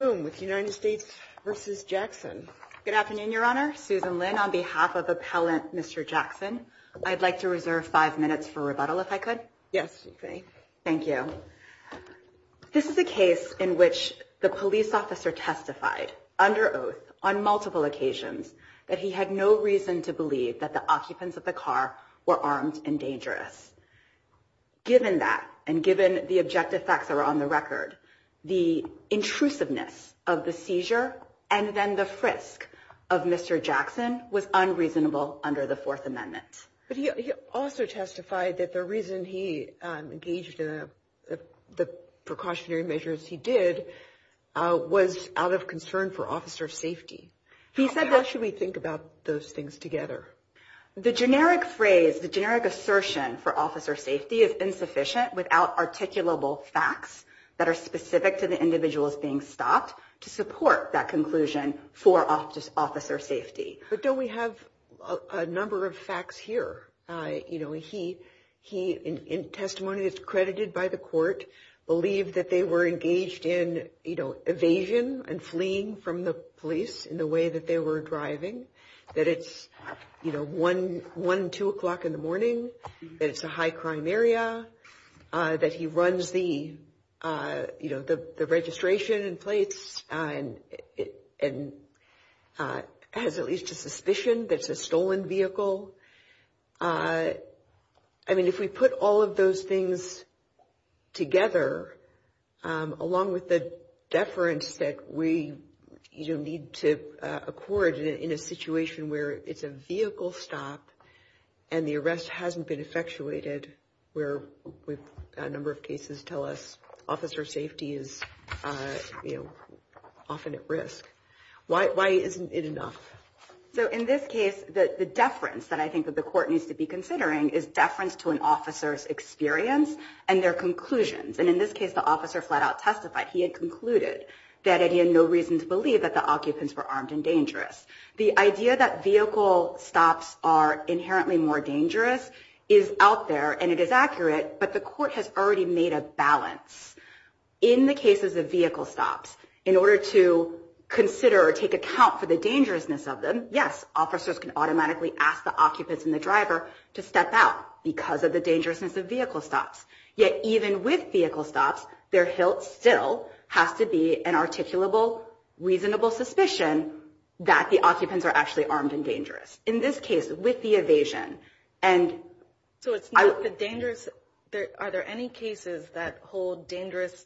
Good afternoon, Your Honor, Susan Lin on behalf of Appellant Mr. Jackson. I'd like to reserve five minutes for rebuttal if I could. Yes, you may. Thank you. This is a case in which the police officer testified under oath on multiple occasions that he had no reason to believe that the occupants of the car were armed and dangerous. Given that, and given the objective facts that are on the record, the intrusiveness of the seizure and then the frisk of Mr. Jackson was unreasonable under the Fourth Amendment. But he also testified that the reason he engaged in the precautionary measures he did was out of concern for officer safety. How should we think about those things together? The generic phrase, the generic assertion for officer safety is insufficient without articulable facts that are specific to the individuals being stopped to support that conclusion for officer safety. But don't we have a number of facts here? You know, he, in testimony that's credited by the court, believed that they were engaged in, you know, evasion and fleeing from the police in the way that they were driving. That it's, you know, one, two o'clock in the morning, that it's a high crime area, that he runs the, you know, the registration and plates and has at least a suspicion that it's a stolen vehicle. I mean, if we put all of those things together, along with the deference that we, you know, need to accord in a situation where it's a vehicle stop and the arrest hasn't been effectuated, where we've got a number of cases tell us officer safety is, you know, often at risk. Why isn't it enough? So in this case, the deference that I think that the court needs to be considering is deference to an officer's experience and their conclusions. And in this case, the officer flat out testified. He had concluded that he had no reason to believe that the occupants were armed and dangerous. The idea that vehicle stops are inherently more dangerous is out there and it is accurate. But the court has already made a balance. In the cases of vehicle stops, in order to consider or take account for the dangerousness of them, yes, officers can automatically ask the occupants and the driver to step out because of the dangerousness of vehicle stops. Yet even with vehicle stops, there still has to be an articulable, reasonable suspicion that the occupants are actually armed and dangerous. In this case, with the evasion. So are there any cases that hold dangerousness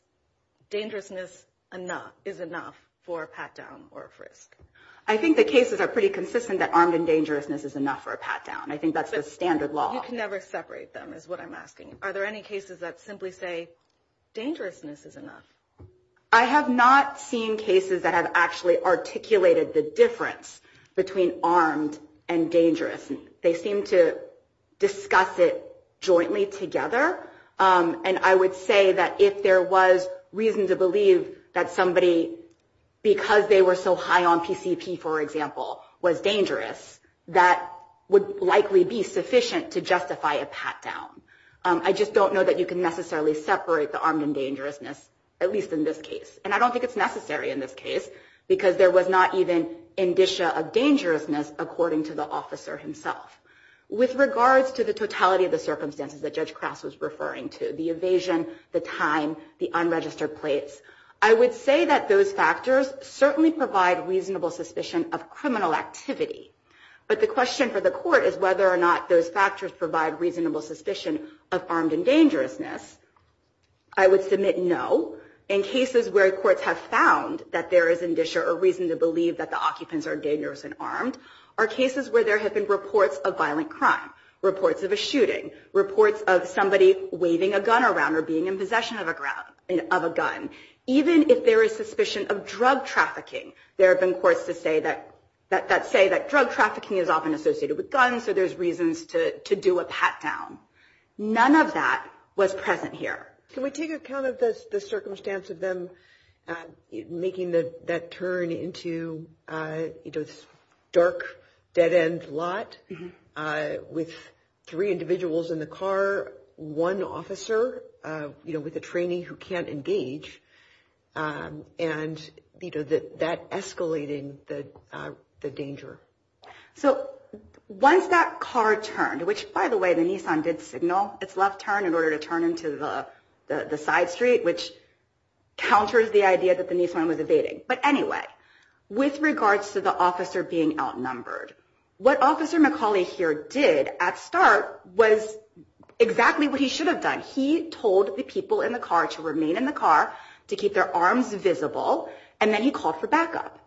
is enough for a pat down or a frisk? I think the cases are pretty consistent that armed and dangerousness is enough for a pat down. I think that's the standard law. You can never separate them is what I'm asking. Are there any cases that simply say dangerousness is enough? I have not seen cases that have actually articulated the difference between armed and dangerous. They seem to discuss it jointly together. And I would say that if there was reason to believe that somebody, because they were so high on PCP, for example, was dangerous, that would likely be sufficient to justify a pat down. I just don't know that you can necessarily separate the armed and dangerousness, at least in this case. And I don't think it's necessary in this case, because there was not even indicia of dangerousness, according to the officer himself. With regards to the totality of the circumstances that Judge Crass was referring to, the evasion, the time, the unregistered plates, I would say that those factors certainly provide reasonable suspicion of criminal activity. But the question for the court is whether or not those factors provide reasonable suspicion of armed and dangerousness. I would submit no. In cases where courts have found that there is indicia or reason to believe that the occupants are dangerous and armed are cases where there have been reports of violent crime, reports of a shooting, reports of somebody waving a gun around or being in possession of a gun. Even if there is suspicion of drug trafficking, there have been courts that say that drug trafficking is often associated with guns, so there's reasons to do a pat down. None of that was present here. Can we take account of the circumstance of them making that turn into this dark, dead-end lot with three individuals in the car, one officer with a trainee who can't engage, and that escalating the danger? So once that car turned, which, by the way, the Nissan did signal its left turn in order to turn into the side street, which counters the idea that the Nissan was evading. But anyway, with regards to the officer being outnumbered, what Officer McCauley here did at start was exactly what he should have done. He told the people in the car to remain in the car to keep their arms visible, and then he called for backup.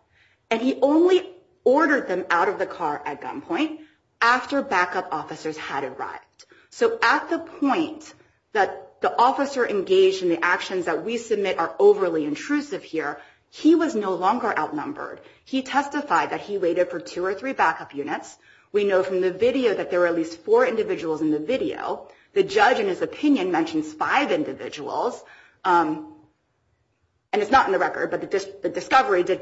And he only ordered them out of the car at gunpoint after backup officers had arrived. So at the point that the officer engaged in the actions that we submit are overly intrusive here, he was no longer outnumbered. He testified that he waited for two or three backup units. We know from the video that there were at least four individuals in the video. The judge, in his opinion, mentions five individuals. And it's not in the record, but the discovery did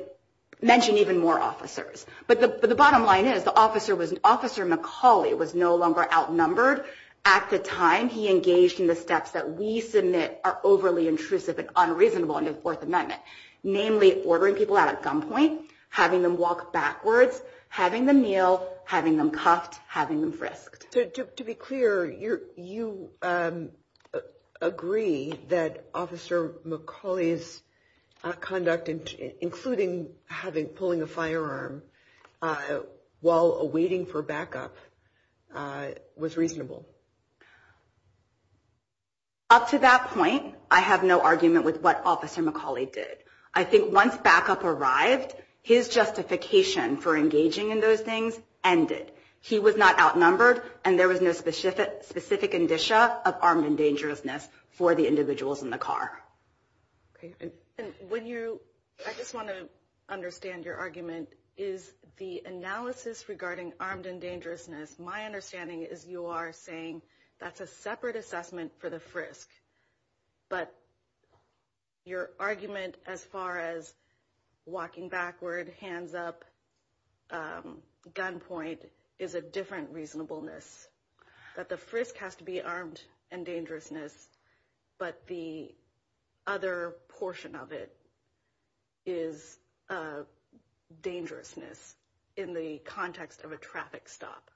mention even more officers. But the bottom line is the officer was Officer McCauley was no longer outnumbered. At the time, he engaged in the steps that we submit are overly intrusive and unreasonable under the Fourth Amendment, namely ordering people out at gunpoint, having them walk backwards, having them kneel, having them cuffed, having them frisked. To be clear, you agree that Officer McCauley's conduct, including having pulling a firearm while waiting for backup, was reasonable. Up to that point, I have no argument with what Officer McCauley did. I think once backup arrived, his justification for engaging in those things ended. He was not outnumbered, and there was no specific indicia of armed and dangerousness for the individuals in the car. Okay. And when you – I just want to understand your argument. Is the analysis regarding armed and dangerousness, my understanding is you are saying that's a separate assessment for the frisk. But your argument as far as walking backward, hands up, gunpoint is a different reasonableness, that the frisk has to be armed and dangerousness, but the other portion of it is dangerousness in the context of a traffic stop.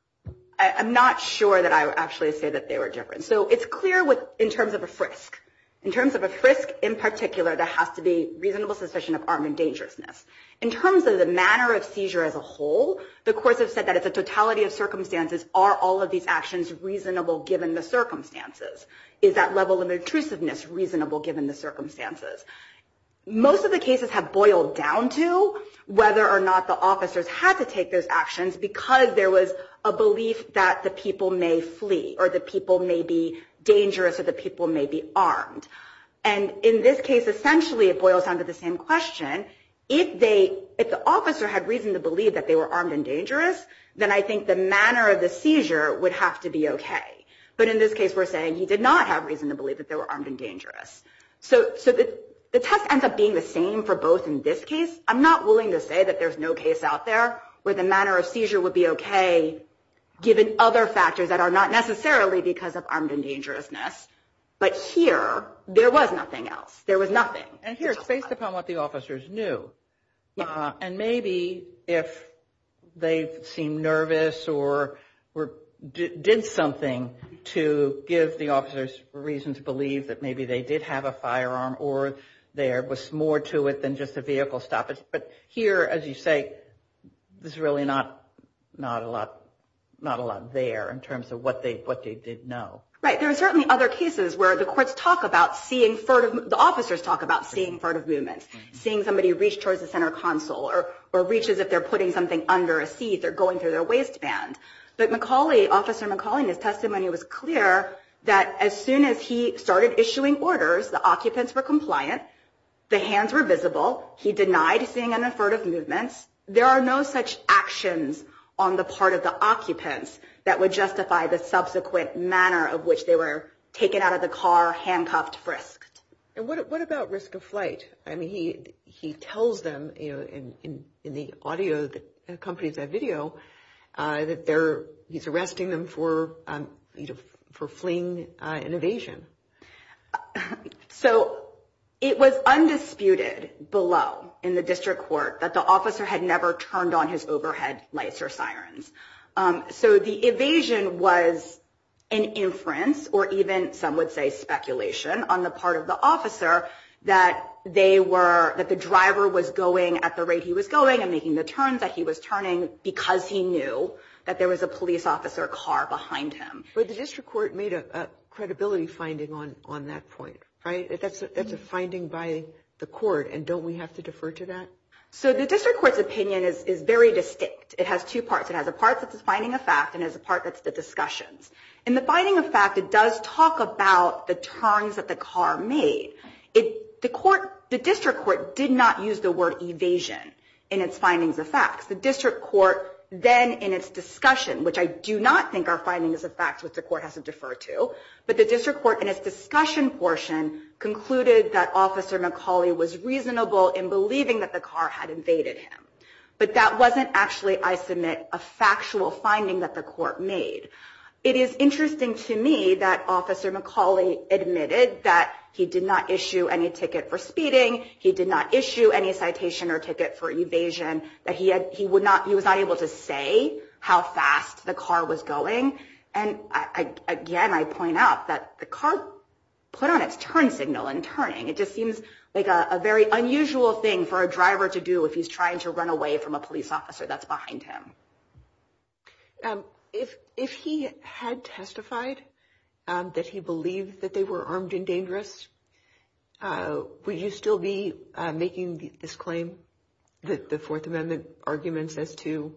I'm not sure that I would actually say that they were different. So it's clear in terms of a frisk. In terms of a frisk in particular, there has to be reasonable suspicion of armed and dangerousness. In terms of the manner of seizure as a whole, the courts have said that it's a totality of circumstances. Are all of these actions reasonable given the circumstances? Is that level of intrusiveness reasonable given the circumstances? Most of the cases have boiled down to whether or not the officers had to take those actions because there was a belief that the people may flee or the people may be dangerous or the people may be armed. And in this case, essentially, it boils down to the same question. If the officer had reason to believe that they were armed and dangerous, then I think the manner of the seizure would have to be okay. But in this case, we're saying he did not have reason to believe that they were armed and dangerous. So the test ends up being the same for both in this case. I'm not willing to say that there's no case out there where the manner of seizure would be okay given other factors that are not necessarily because of armed and dangerousness. But here, there was nothing else. There was nothing. And here, it's based upon what the officers knew. And maybe if they seemed nervous or did something to give the officers reason to believe that maybe they did have a firearm or there was more to it than just a vehicle stoppage. But here, as you say, there's really not a lot there in terms of what they did know. Right. There are certainly other cases where the courts talk about seeing furtive – the officers talk about seeing furtive movements, seeing somebody reach towards the center console or reach as if they're putting something under a seat or going through their waistband. But McAuley, Officer McAuley, in his testimony, was clear that as soon as he started issuing orders, the occupants were compliant. The hands were visible. He denied seeing any furtive movements. There are no such actions on the part of the occupants that would justify the subsequent manner of which they were taken out of the car, handcuffed, frisked. And what about risk of flight? I mean, he tells them in the audio that accompanies that video that he's arresting them for fleeing and evasion. So it was undisputed below in the district court that the officer had never turned on his overhead lights or sirens. So the evasion was an inference or even some would say speculation on the part of the officer that they were – that the driver was going at the rate he was going and making the turns that he was turning because he knew that there was a police officer car behind him. But the district court made a credibility finding on that point, right? That's a finding by the court, and don't we have to defer to that? So the district court's opinion is very distinct. It has two parts. It has a part that's a finding of fact and has a part that's the discussions. In the finding of fact, it does talk about the turns that the car made. The court – the district court did not use the word evasion in its findings of facts. The district court then in its discussion, which I do not think our findings of facts which the court has to defer to, but the district court in its discussion portion concluded that Officer McCauley was reasonable in believing that the car had invaded him. But that wasn't actually, I submit, a factual finding that the court made. It is interesting to me that Officer McCauley admitted that he did not issue any ticket for speeding. He did not issue any citation or ticket for evasion, that he was not able to say how fast the car was going. And again, I point out that the car put on its turn signal and turning. It just seems like a very unusual thing for a driver to do if he's trying to run away from a police officer that's behind him. If he had testified that he believed that they were armed and dangerous, would you still be making this claim, the Fourth Amendment arguments as to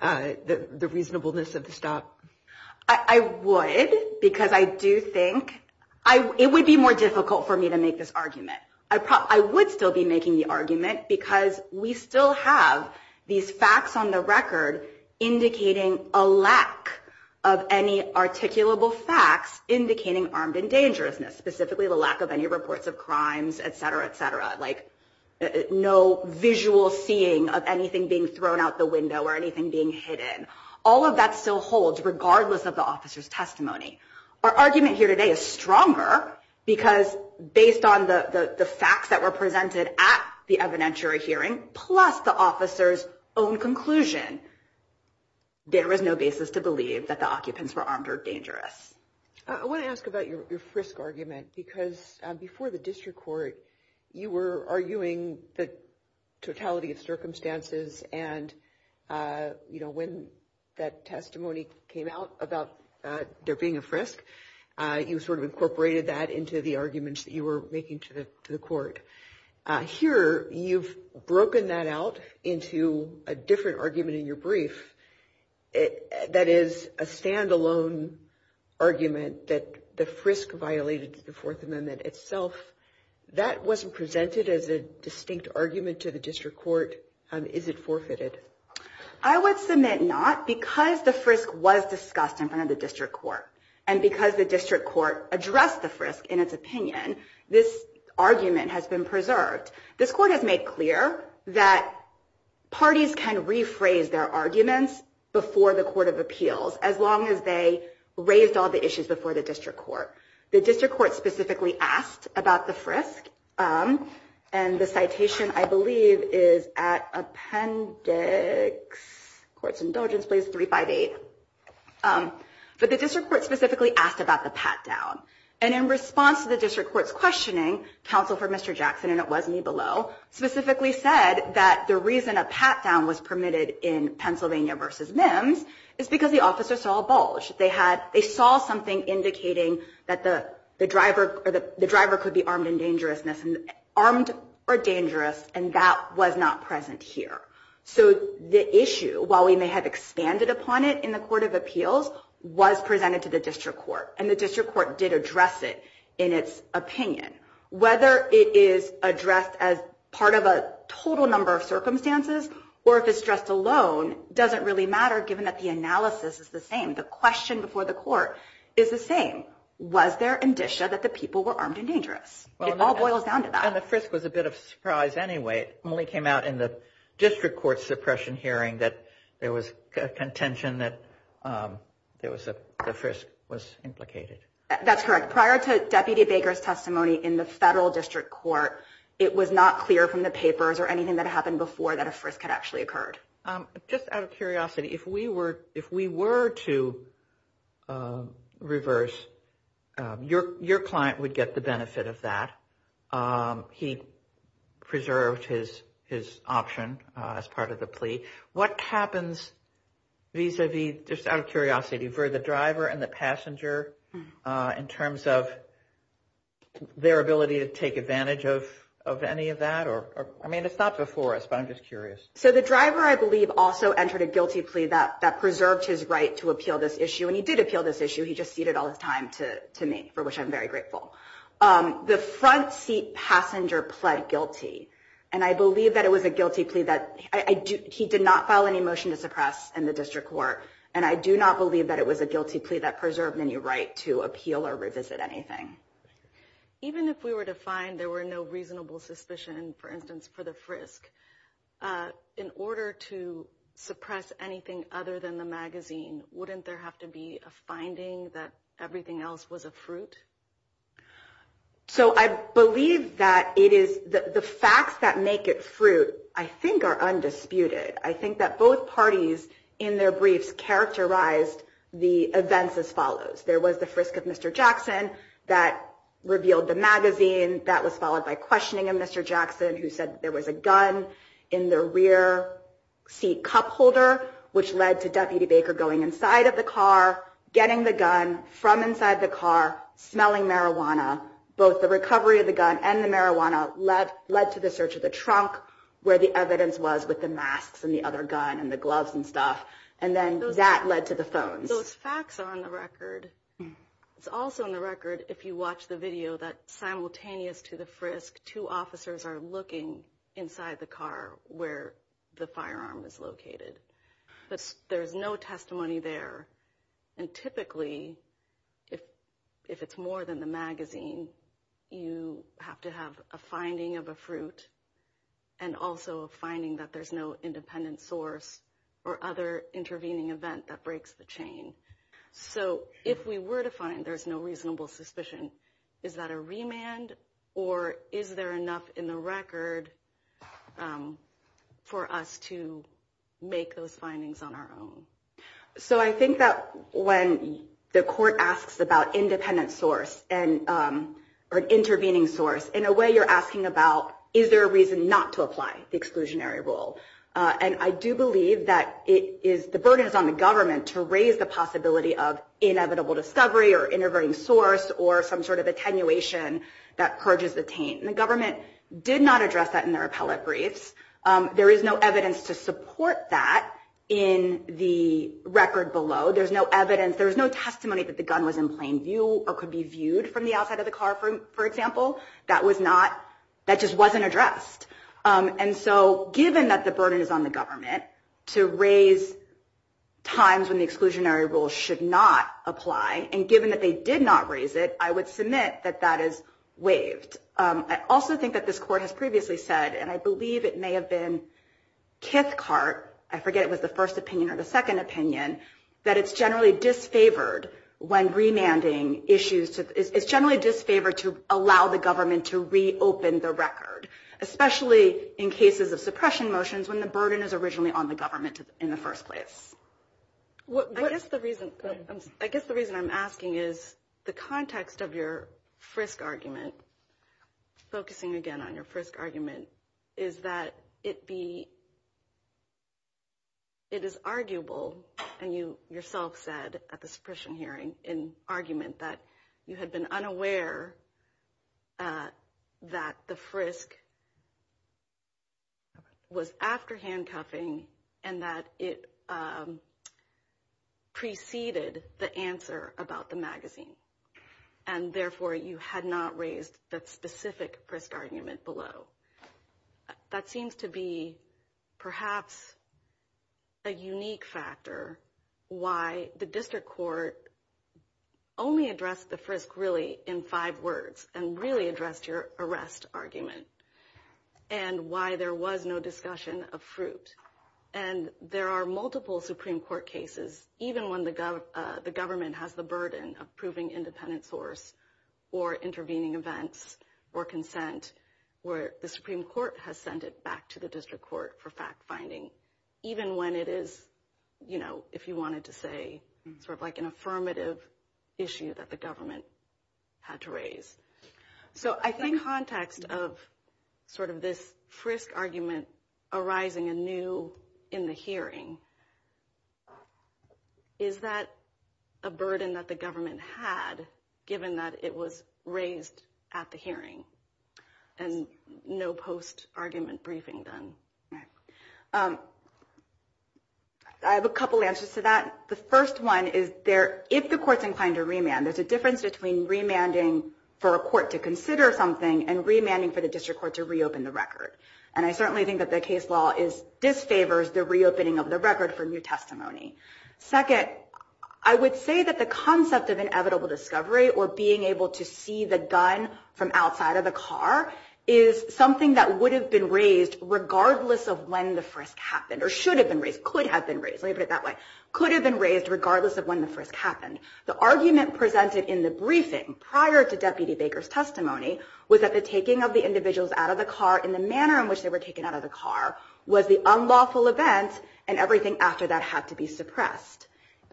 the reasonableness of the stop? I would because I do think – it would be more difficult for me to make this argument. I would still be making the argument because we still have these facts on the record indicating a lack of any articulable facts, indicating armed and dangerousness, specifically the lack of any reports of crimes, et cetera, et cetera, like no visual seeing of anything being thrown out the window or anything being hidden. All of that still holds regardless of the officer's testimony. Our argument here today is stronger because based on the facts that were presented at the evidentiary hearing, plus the officer's own conclusion, there is no basis to believe that the occupants were armed or dangerous. I want to ask about your frisk argument because before the district court, you were arguing the totality of circumstances. And, you know, when that testimony came out about there being a frisk, you sort of incorporated that into the arguments that you were making to the court. Here you've broken that out into a different argument in your brief. That is a standalone argument that the frisk violated the Fourth Amendment itself. That wasn't presented as a distinct argument to the district court. Is it forfeited? I would submit not. Because the frisk was discussed in front of the district court and because the district court addressed the frisk in its opinion, this argument has been preserved. This court has made clear that parties can rephrase their arguments before the court of appeals as long as they raised all the issues before the district court. The district court specifically asked about the frisk. And the citation, I believe, is at Appendix Courts Indulgence Place 358. But the district court specifically asked about the pat down. And in response to the district court's questioning, counsel for Mr. Jackson, and it was me below, specifically said that the reason a pat down was permitted in Pennsylvania versus MIMS is because the officer saw a bulge. They saw something indicating that the driver could be armed or dangerous, and that was not present here. So the issue, while we may have expanded upon it in the court of appeals, was presented to the district court. And the district court did address it in its opinion. Whether it is addressed as part of a total number of circumstances or if it's addressed alone doesn't really matter given that the analysis is the same. The question before the court is the same. Was there indicia that the people were armed and dangerous? It all boils down to that. And the frisk was a bit of a surprise anyway. It only came out in the district court suppression hearing that there was contention that the frisk was implicated. That's correct. Prior to Deputy Baker's testimony in the federal district court, it was not clear from the papers or anything that happened before that a frisk had actually occurred. Just out of curiosity, if we were to reverse, your client would get the benefit of that. He preserved his option as part of the plea. What happens vis-a-vis, just out of curiosity, for the driver and the passenger in terms of their ability to take advantage of any of that? I mean, it's not before us, but I'm just curious. So the driver, I believe, also entered a guilty plea that preserved his right to appeal this issue. And he did appeal this issue. He just ceded all his time to me, for which I'm very grateful. The front seat passenger pled guilty. And I believe that it was a guilty plea that he did not file any motion to suppress in the district court. And I do not believe that it was a guilty plea that preserved any right to appeal or revisit anything. Even if we were to find there were no reasonable suspicion, for instance, for the frisk, in order to suppress anything other than the magazine, wouldn't there have to be a finding that everything else was a fruit? So I believe that it is the facts that make it fruit, I think, are undisputed. I think that both parties in their briefs characterized the events as follows. There was the frisk of Mr. Jackson that revealed the magazine. That was followed by questioning of Mr. Jackson, who said there was a gun in the rear seat cup holder, which led to Deputy Baker going inside of the car, getting the gun from inside the car, smelling marijuana. Both the recovery of the gun and the marijuana led to the search of the trunk, where the evidence was with the masks and the other gun and the gloves and stuff. And then that led to the phones. So it's facts on the record. It's also on the record, if you watch the video, that simultaneous to the frisk, two officers are looking inside the car where the firearm is located. But there's no testimony there. And typically, if it's more than the magazine, you have to have a finding of a fruit and also a finding that there's no independent source or other intervening event that breaks the chain. So if we were to find there's no reasonable suspicion, is that a remand? Or is there enough in the record for us to make those findings on our own? So I think that when the court asks about independent source or intervening source, in a way you're asking about is there a reason not to apply the exclusionary rule. And I do believe that the burden is on the government to raise the possibility of inevitable discovery or intervening source or some sort of attenuation that purges the taint. And the government did not address that in their appellate briefs. There is no evidence to support that in the record below. There's no evidence, there's no testimony that the gun was in plain view or could be viewed from the outside of the car, for example. That just wasn't addressed. And so given that the burden is on the government to raise times when the exclusionary rule should not apply, and given that they did not raise it, I would submit that that is waived. I also think that this court has previously said, and I believe it may have been Kithcart, I forget if it was the first opinion or the second opinion, that it's generally disfavored when remanding issues. It's generally disfavored to allow the government to reopen the record, especially in cases of suppression motions when the burden is originally on the government in the first place. I guess the reason I'm asking is the context of your Frisk argument, focusing again on your Frisk argument, is that it is arguable, and you yourself said at the suppression hearing in argument, that you had been unaware that the Frisk was after handcuffing and that it preceded the answer about the magazine. And therefore, you had not raised that specific Frisk argument below. That seems to be perhaps a unique factor why the district court only addressed the Frisk really in five words and really addressed your arrest argument, and why there was no discussion of fruit. There are multiple Supreme Court cases, even when the government has the burden of proving independent source or intervening events or consent, where the Supreme Court has sent it back to the district court for fact-finding, even when it is, if you wanted to say, an affirmative issue that the government had to raise. So I think the context of sort of this Frisk argument arising anew in the hearing, is that a burden that the government had given that it was raised at the hearing and no post-argument briefing done? I have a couple answers to that. The first one is, if the court's inclined to remand, there's a difference between remanding for a court to consider something and remanding for the district court to reopen the record. And I certainly think that the case law disfavors the reopening of the record for new testimony. Second, I would say that the concept of inevitable discovery or being able to see the gun from outside of the car is something that would have been raised regardless of when the Frisk happened, or should have been raised, could have been raised. Let me put it that way. Could have been raised regardless of when the Frisk happened. The argument presented in the briefing prior to Deputy Baker's testimony was that the taking of the individuals out of the car in the manner in which they were taken out of the car was the unlawful event, and everything after that had to be suppressed.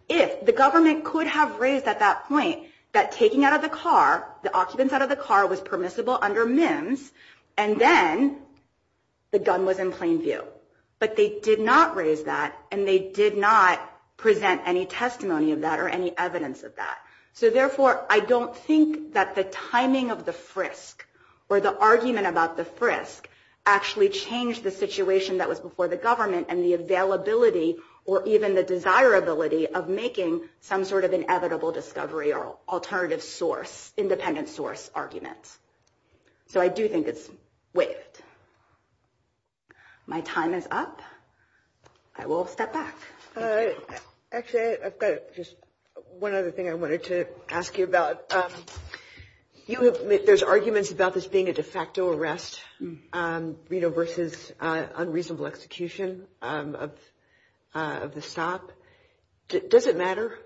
If the government could have raised at that point that taking out of the car, the occupants out of the car, was permissible under MIMS, and then the gun was in plain view. But they did not raise that, and they did not present any testimony of that or any evidence of that. So therefore, I don't think that the timing of the Frisk or the argument about the Frisk actually changed the situation that was before the government and the availability or even the desirability of making some sort of inevitable discovery or alternative source, independent source argument. So I do think it's waived. My time is up. I will step back. Actually, I've got just one other thing I wanted to ask you about. There's arguments about this being a de facto arrest versus unreasonable execution of the stop. Does it matter?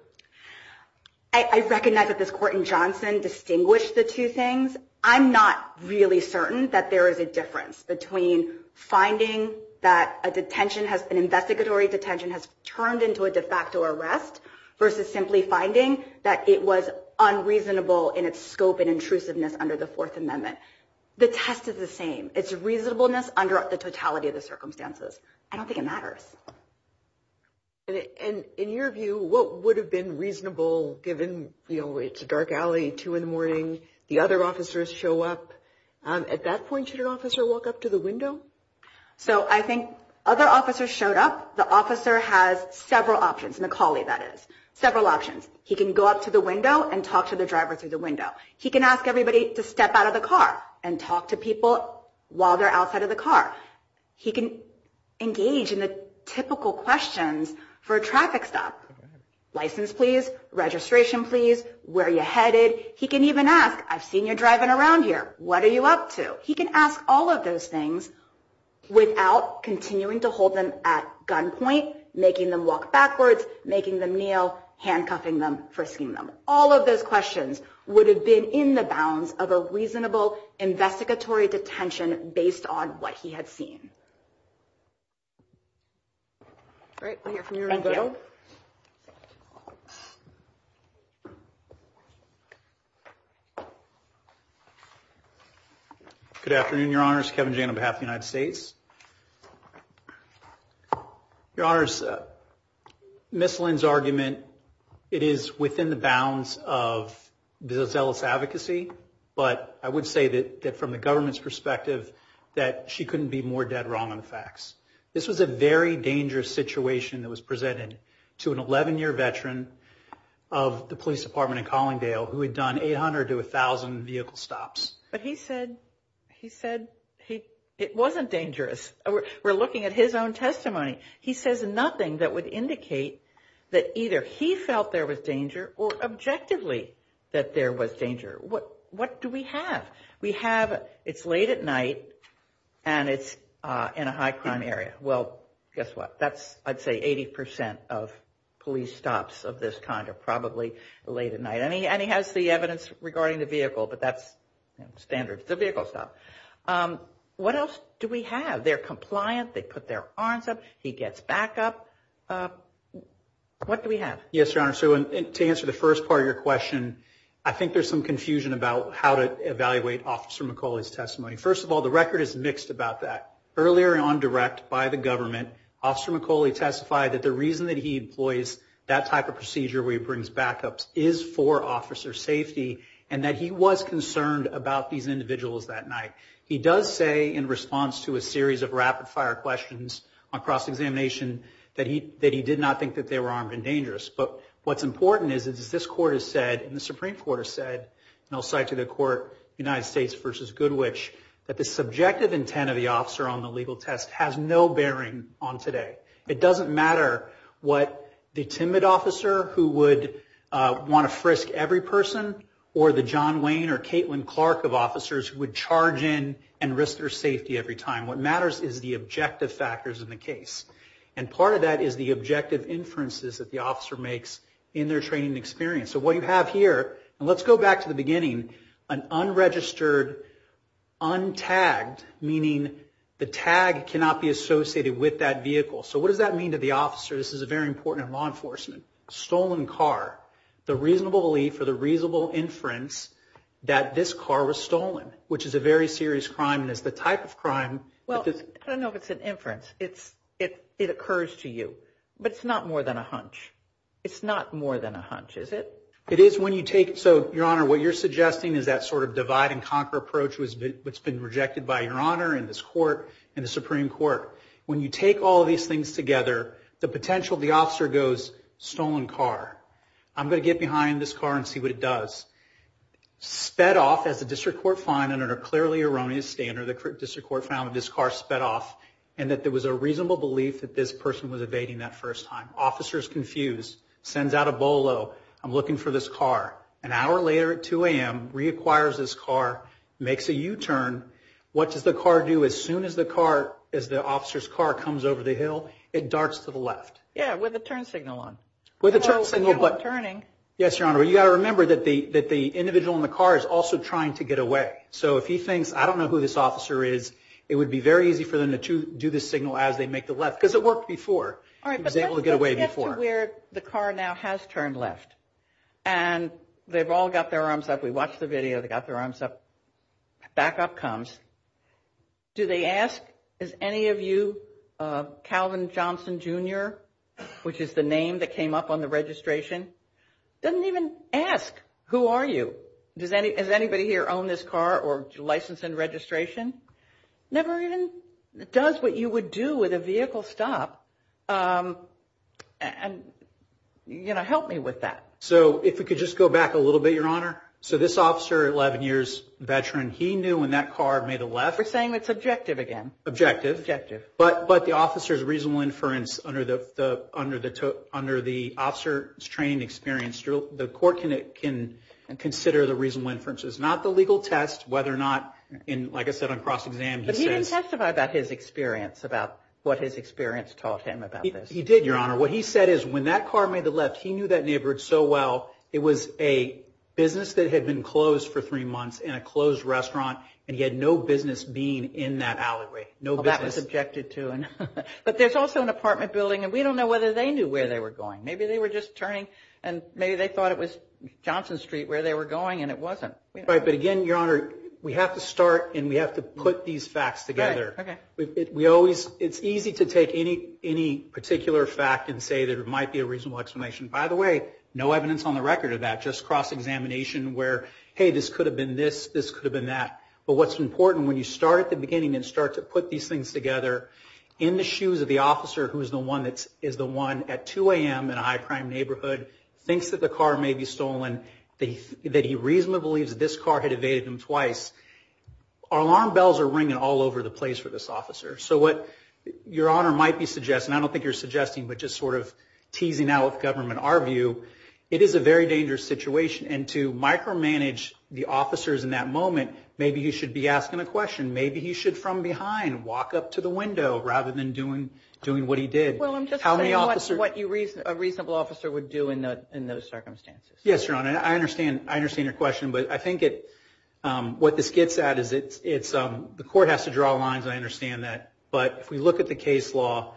I recognize that this Court in Johnson distinguished the two things. I'm not really certain that there is a difference between finding that an investigatory detention has turned into a de facto arrest versus simply finding that it was unreasonable in its scope and intrusiveness under the Fourth Amendment. The test is the same. It's reasonableness under the totality of the circumstances. I don't think it matters. And in your view, what would have been reasonable given, you know, it's a dark alley, 2 in the morning, the other officers show up. At that point, should an officer walk up to the window? So I think other officers showed up. The officer has several options, Macaulay, that is, several options. He can go up to the window and talk to the driver through the window. He can ask everybody to step out of the car and talk to people while they're outside of the car. He can engage in the typical questions for a traffic stop, license, please, registration, please, where you headed. He can even ask, I've seen you driving around here. What are you up to? He can ask all of those things without continuing to hold them at gunpoint, making them walk backwards, making them kneel, handcuffing them, frisking them. All of those questions would have been in the bounds of a reasonable investigatory detention based on what he had seen. All right. We'll hear from you in a little. Thank you. Good afternoon, Your Honors. Kevin Jane on behalf of the United States. Your Honors, Ms. Lynn's argument, it is within the bounds of zealous advocacy, but I would say that from the government's perspective that she couldn't be more dead wrong on the facts. This was a very dangerous situation that was presented to an 11-year veteran of the police department in Collingdale who had done 800 to 1,000 vehicle stops. But he said it wasn't dangerous. We're looking at his own testimony. He says nothing that would indicate that either he felt there was danger or objectively that there was danger. What do we have? We have it's late at night and it's in a high crime area. Well, guess what? That's, I'd say, 80% of police stops of this kind are probably late at night. And he has the evidence regarding the vehicle, but that's standard. It's a vehicle stop. What else do we have? They're compliant. They put their arms up. He gets back up. What do we have? Yes, Your Honor. So to answer the first part of your question, I think there's some confusion about how to evaluate Officer McCauley's testimony. First of all, the record is mixed about that. Earlier on direct by the government, Officer McCauley testified that the reason that he employs that type of procedure where he brings backups is for officer safety and that he was concerned about these individuals that night. He does say in response to a series of rapid-fire questions on cross-examination that he did not think that they were armed and dangerous. But what's important is, as this Court has said and the Supreme Court has said, and I'll cite to the court United States v. Goodwich, that the subjective intent of the officer on the legal test has no bearing on today. It doesn't matter what the timid officer who would want to frisk every person or the John Wayne or Caitlin Clark of officers who would charge in and risk their safety every time. What matters is the objective factors in the case. And part of that is the objective inferences that the officer makes in their training and experience. So what you have here, and let's go back to the beginning, an unregistered, untagged, meaning the tag cannot be associated with that vehicle. So what does that mean to the officer? This is very important in law enforcement. A stolen car, the reasonable belief or the reasonable inference that this car was stolen, which is a very serious crime and is the type of crime. Well, I don't know if it's an inference. It occurs to you. But it's not more than a hunch. It's not more than a hunch, is it? It is when you take it. So, Your Honor, what you're suggesting is that sort of divide-and-conquer approach which has been rejected by Your Honor and this Court and the Supreme Court. When you take all these things together, the potential of the officer goes, stolen car. I'm going to get behind this car and see what it does. Sped off, as the District Court found, under a clearly erroneous standard, the District Court found that this car sped off and that there was a reasonable belief that this person was evading that first time. Officer is confused, sends out a bolo, I'm looking for this car. An hour later at 2 a.m., reacquires this car, makes a U-turn. What does the car do? As soon as the car, as the officer's car comes over the hill, it darts to the left. Yeah, with a turn signal on. With a turn signal. Yes, Your Honor. You've got to remember that the individual in the car is also trying to get away. So if he thinks, I don't know who this officer is, it would be very easy for them to do this signal as they make the left. Because it worked before. He was able to get away before. All right, but let's get to where the car now has turned left. And they've all got their arms up. We watched the video. They've got their arms up. Back up comes. Do they ask, is any of you Calvin Johnson, Jr., which is the name that came up on the registration? Doesn't even ask, who are you? Does anybody here own this car or license and registration? Never even does what you would do with a vehicle stop. And, you know, help me with that. So if we could just go back a little bit, Your Honor. So this officer, 11 years veteran, he knew when that car made a left. We're saying it's objective again. Objective. Objective. But the officer's reasonable inference under the officer's training experience, the court can consider the reasonable inference. It's not the legal test whether or not, like I said on cross-exam, he says. But he didn't testify about his experience, about what his experience taught him about this. He did, Your Honor. What he said is when that car made the left, he knew that neighborhood so well. It was a business that had been closed for three months in a closed restaurant. And he had no business being in that alleyway. No business. That was objected to. But there's also an apartment building, and we don't know whether they knew where they were going. Maybe they were just turning, and maybe they thought it was Johnson Street where they were going, and it wasn't. Right. But, again, Your Honor, we have to start, and we have to put these facts together. Right. Okay. We always – it's easy to take any particular fact and say that it might be a reasonable explanation. By the way, no evidence on the record of that. Just cross-examination where, hey, this could have been this, this could have been that. But what's important, when you start at the beginning and start to put these things together in the shoes of the officer who is the one at 2 a.m. in a high-crime neighborhood, thinks that the car may be stolen, that he reasonably believes that this car had evaded him twice, alarm bells are ringing all over the place for this officer. So what Your Honor might be suggesting – I don't think you're suggesting, but just sort of teasing out of government our view – it is a very dangerous situation. And to micromanage the officers in that moment maybe he should be asking a question. Maybe he should, from behind, walk up to the window rather than doing what he did. Well, I'm just saying what a reasonable officer would do in those circumstances. Yes, Your Honor. I understand your question. But I think what this gets at is the court has to draw lines. I understand that. But if we look at the case law,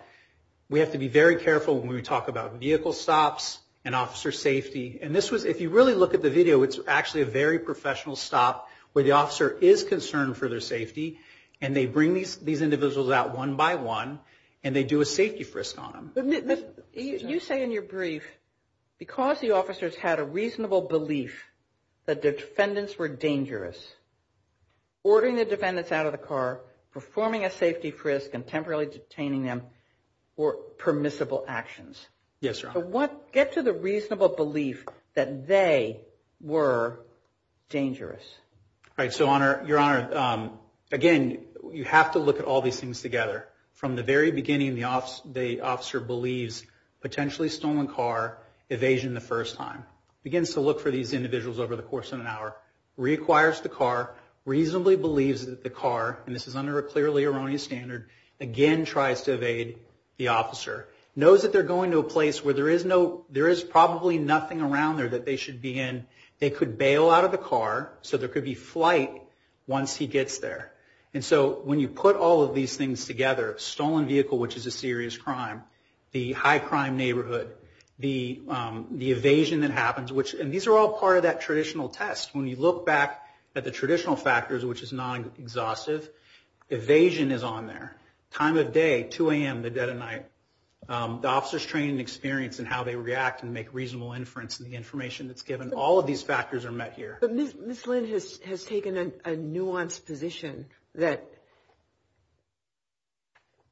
we have to be very careful when we talk about vehicle stops and officer safety. If you really look at the video, it's actually a very professional stop where the officer is concerned for their safety, and they bring these individuals out one by one, and they do a safety frisk on them. You say in your brief, because the officers had a reasonable belief that their defendants were dangerous, ordering the defendants out of the car, performing a safety frisk, and temporarily detaining them were permissible actions. Yes, Your Honor. But get to the reasonable belief that they were dangerous. Right. So, Your Honor, again, you have to look at all these things together. From the very beginning, the officer believes potentially stolen car, evasion the first time. Begins to look for these individuals over the course of an hour. Reacquires the car. Reasonably believes that the car, and this is under a clearly erroneous standard, again tries to evade the officer. Knows that they're going to a place where there is probably nothing around there that they should be in. They could bail out of the car, so there could be flight once he gets there. And so when you put all of these things together, stolen vehicle, which is a serious crime, the high crime neighborhood, the evasion that happens, and these are all part of that traditional test. When you look back at the traditional factors, which is non-exhaustive, evasion is on there. Time of day, 2 a.m. to dead of night. The officer's training and experience in how they react and make reasonable inference in the information that's given. All of these factors are met here. But Ms. Lynn has taken a nuanced position that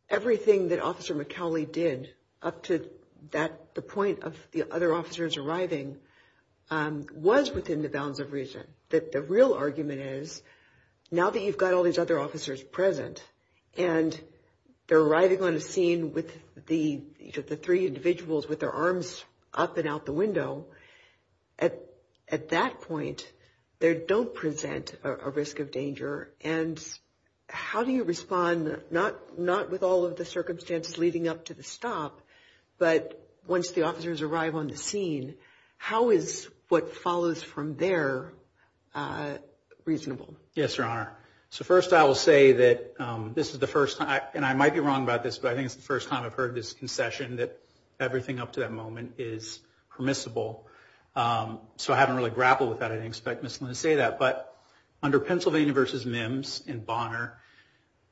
everything that Officer McAuley did up to the point of the other officers arriving was within the bounds of reason. The real argument is now that you've got all these other officers present and they're arriving on a scene with the three individuals with their arms up and out the window. At that point, they don't present a risk of danger. And how do you respond, not with all of the circumstances leading up to the stop, but once the officers arrive on the scene, how is what follows from there reasonable? Yes, Your Honor. So first I will say that this is the first time, and I might be wrong about this, but I think it's the first time I've heard this concession, that everything up to that moment is permissible. So I haven't really grappled with that. I didn't expect Ms. Lynn to say that. But under Pennsylvania v. MIMS and Bonner,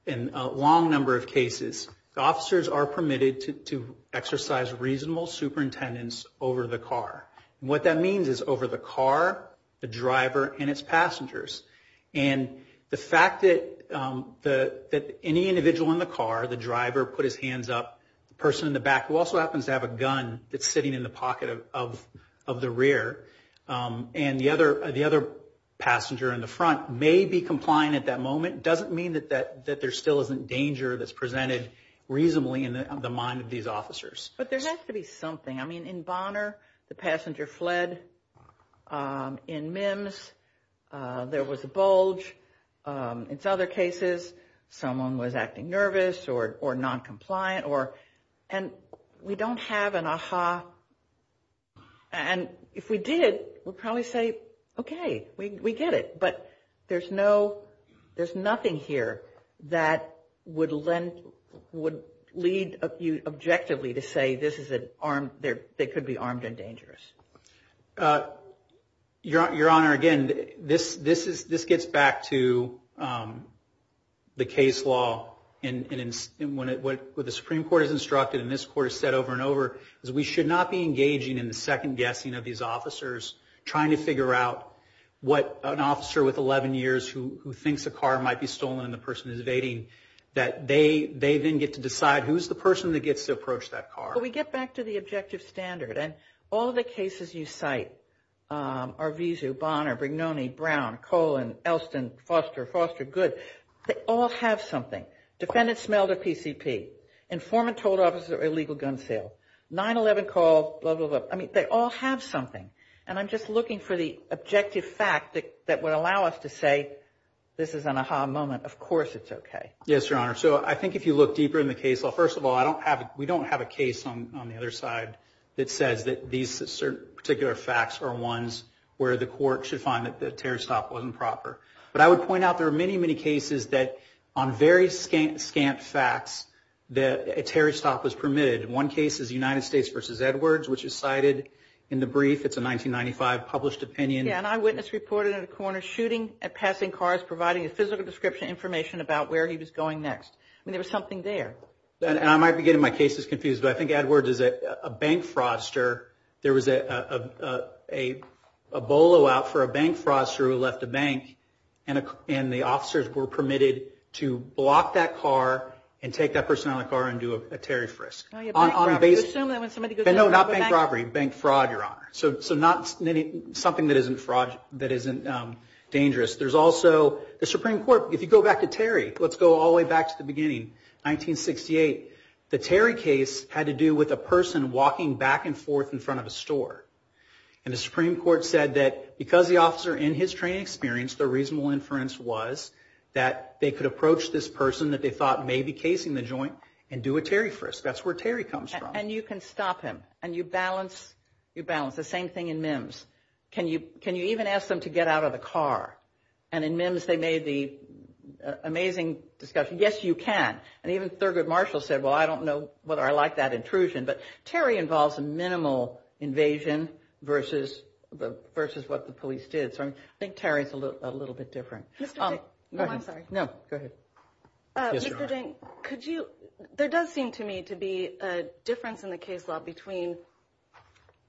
in a long number of cases, the officers are permitted to exercise reasonable superintendence over the car. And what that means is over the car, the driver, and its passengers. And the fact that any individual in the car, the driver put his hands up, the person in the back, who also happens to have a gun that's sitting in the pocket of the rear, and the other passenger in the front may be complying at that moment, doesn't mean that there still isn't danger that's presented reasonably in the mind of these officers. But there has to be something. I mean, in Bonner, the passenger fled. In MIMS, there was a bulge. In other cases, someone was acting nervous or noncompliant. And we don't have an aha. And if we did, we'd probably say, okay, we get it. But there's nothing here that would lead you objectively to say this could be armed and dangerous. Your Honor, again, this gets back to the case law. What the Supreme Court has instructed, and this Court has said over and over, is we should not be engaging in the second guessing of these officers, trying to figure out what an officer with 11 years who thinks a car might be stolen and the person is evading, that they then get to decide who's the person that gets to approach that car. Well, we get back to the objective standard. And all the cases you cite, Arvizu, Bonner, Brignone, Brown, Cohen, Elston, Foster, Foster, Good, they all have something. Defendant smelled a PCP. Informant told officer illegal gun sale. 9-11 call, blah, blah, blah. So, I mean, they all have something. And I'm just looking for the objective fact that would allow us to say this is an aha moment. Of course it's okay. Yes, Your Honor. So I think if you look deeper in the case law, first of all, we don't have a case on the other side that says that these particular facts are ones where the court should find that the terror stop wasn't proper. But I would point out there are many, many cases that on very scant facts that a terror stop was permitted. One case is United States v. Edwards, which is cited in the brief. It's a 1995 published opinion. Yeah, an eyewitness reported at a corner shooting at passing cars, providing a physical description information about where he was going next. I mean, there was something there. And I might be getting my cases confused, but I think Edwards is a bank fraudster. There was a bolo out for a bank fraudster who left a bank, and the officers were permitted to block that car and take that person out of the car and do a tariff risk. No, not bank robbery. Bank fraud, Your Honor. So not something that isn't dangerous. There's also the Supreme Court, if you go back to Terry, let's go all the way back to the beginning, 1968. The Terry case had to do with a person walking back and forth in front of a store. And the Supreme Court said that because the officer in his training experience, the reasonable inference was that they could approach this person that they thought may be casing the joint and do a tariff risk. That's where Terry comes from. And you can stop him, and you balance the same thing in MIMS. Can you even ask them to get out of the car? And in MIMS, they made the amazing discussion, yes, you can. And even Thurgood Marshall said, well, I don't know whether I like that intrusion. But Terry involves a minimal invasion versus what the police did. So I think Terry is a little bit different. Mr. Jankowski. Oh, I'm sorry. No, go ahead. Mr. Jankowski, there does seem to me to be a difference in the case law between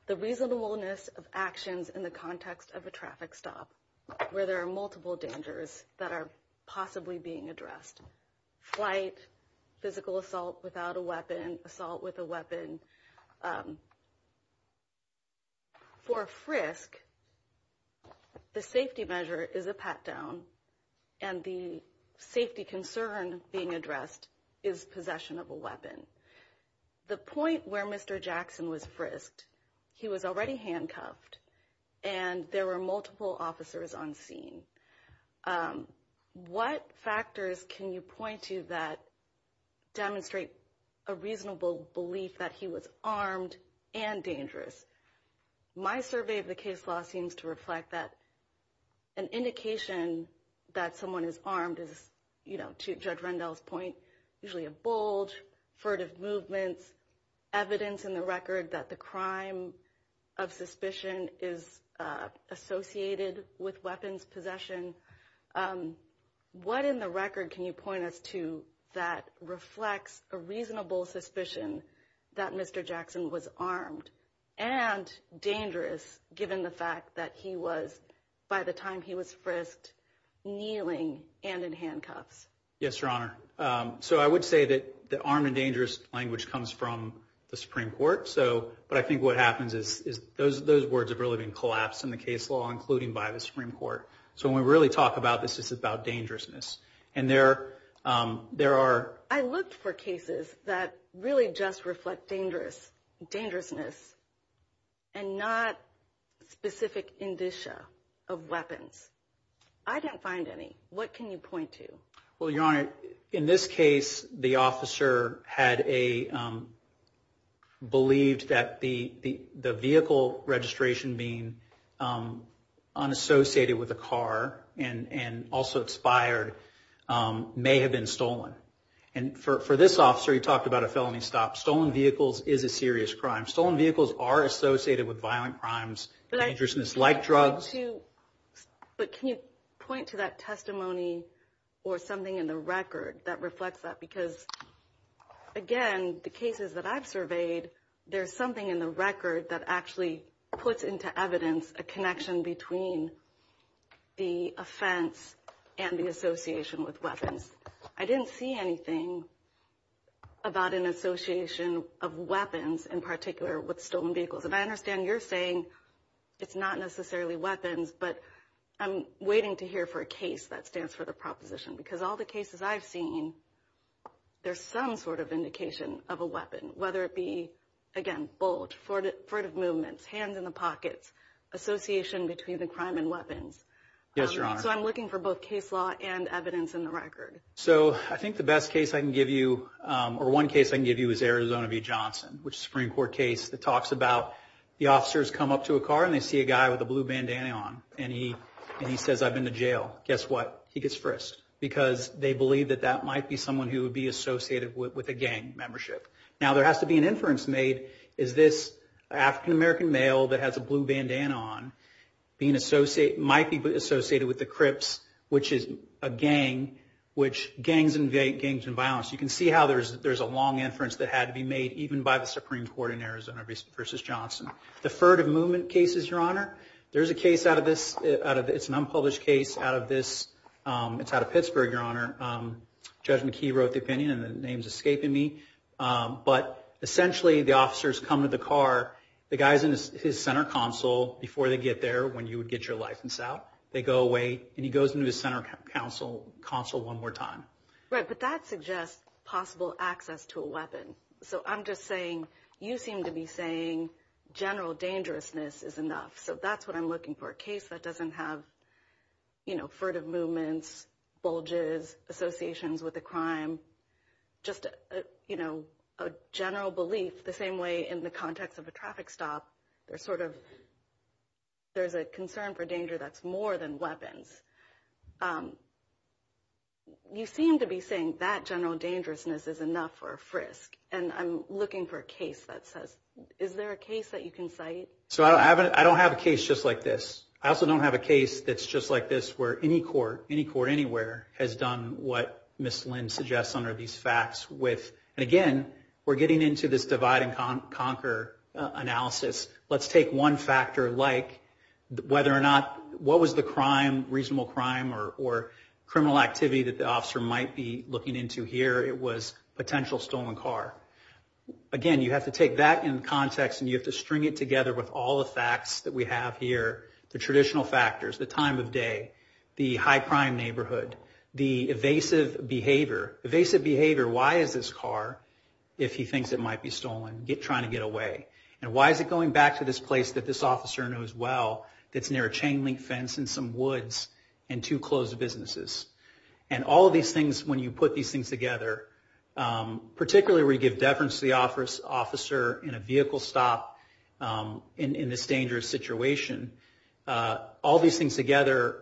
the reasonableness of actions in the context of a traffic stop, where there are multiple dangers that are possibly being addressed. Flight, physical assault without a weapon, assault with a weapon. For a frisk, the safety measure is a pat down, and the safety concern being addressed is possession of a weapon. The point where Mr. Jackson was frisked, he was already handcuffed, and there were multiple officers on scene. What factors can you point to that demonstrate a reasonable belief that he was armed and dangerous? My survey of the case law seems to reflect that. An indication that someone is armed is, you know, to Judge Rendell's point, usually a bulge, furtive movements, evidence in the record that the crime of suspicion is associated with weapons possession. What in the record can you point us to that reflects a reasonable suspicion that Mr. Jackson was armed and dangerous, given the fact that he was, by the time he was frisked, kneeling and in handcuffs? Yes, Your Honor. So I would say that the armed and dangerous language comes from the Supreme Court, but I think what happens is those words have really been collapsed in the case law, including by the Supreme Court. So when we really talk about this, it's about dangerousness, and there are... I looked for cases that really just reflect dangerousness and not specific indicia of weapons. I didn't find any. What can you point to? Well, Your Honor, in this case, the officer had a... believed that the vehicle registration being unassociated with a car and also expired may have been stolen. And for this officer, he talked about a felony stop. Stolen vehicles is a serious crime. Stolen vehicles are associated with violent crimes, dangerousness like drugs. But can you point to that testimony or something in the record that reflects that? Because, again, the cases that I've surveyed, there's something in the record that actually puts into evidence a connection between the offense and the association with weapons. I didn't see anything about an association of weapons, in particular, with stolen vehicles. And I understand you're saying it's not necessarily weapons, but I'm waiting to hear for a case that stands for the proposition, because all the cases I've seen, there's some sort of indication of a weapon, whether it be, again, bulge, furtive movements, hands in the pockets, association between the crime and weapons. Yes, Your Honor. So I'm looking for both case law and evidence in the record. So I think the best case I can give you, or one case I can give you, is Arizona v. Johnson, which is a Supreme Court case that talks about the officers come up to a car, and they see a guy with a blue bandana on. And he says, I've been to jail. Guess what? He gets frisked because they believe that that might be someone who would be associated with a gang membership. Now, there has to be an inference made. Is this African-American male that has a blue bandana on might be associated with the Crips, which is a gang, which gangs invade gangs and violence. You can see how there's a long inference that had to be made, even by the Supreme Court in Arizona v. Johnson. The furtive movement case is, Your Honor, there's a case out of this. It's an unpublished case out of this. It's out of Pittsburgh, Your Honor. Judge McKee wrote the opinion, and the name's escaping me. But essentially, the officers come to the car. The guy's in his center console before they get there, when you would get your license out. They go away, and he goes into his center console one more time. Right, but that suggests possible access to a weapon. So I'm just saying you seem to be saying general dangerousness is enough. So that's what I'm looking for, a case that doesn't have, you know, furtive movements, bulges, associations with a crime, just, you know, a general belief the same way in the context of a traffic stop. There's sort of there's a concern for danger that's more than weapons. You seem to be saying that general dangerousness is enough for a frisk, and I'm looking for a case that says, is there a case that you can cite? So I don't have a case just like this. I also don't have a case that's just like this where any court, any court anywhere, has done what Ms. Lynn suggests under these facts with. And again, we're getting into this divide and conquer analysis. Let's take one factor like whether or not what was the crime, reasonable crime, or criminal activity that the officer might be looking into here. It was potential stolen car. Again, you have to take that in context, and you have to string it together with all the facts that we have here, the traditional factors, the time of day, the high crime neighborhood, the evasive behavior. Evasive behavior, why is this car, if he thinks it might be stolen, trying to get away? And why is it going back to this place that this officer knows well that's near a chain link fence and some woods and two closed businesses? And all of these things, when you put these things together, particularly where you give deference to the officer in a vehicle stop in this dangerous situation, all these things together,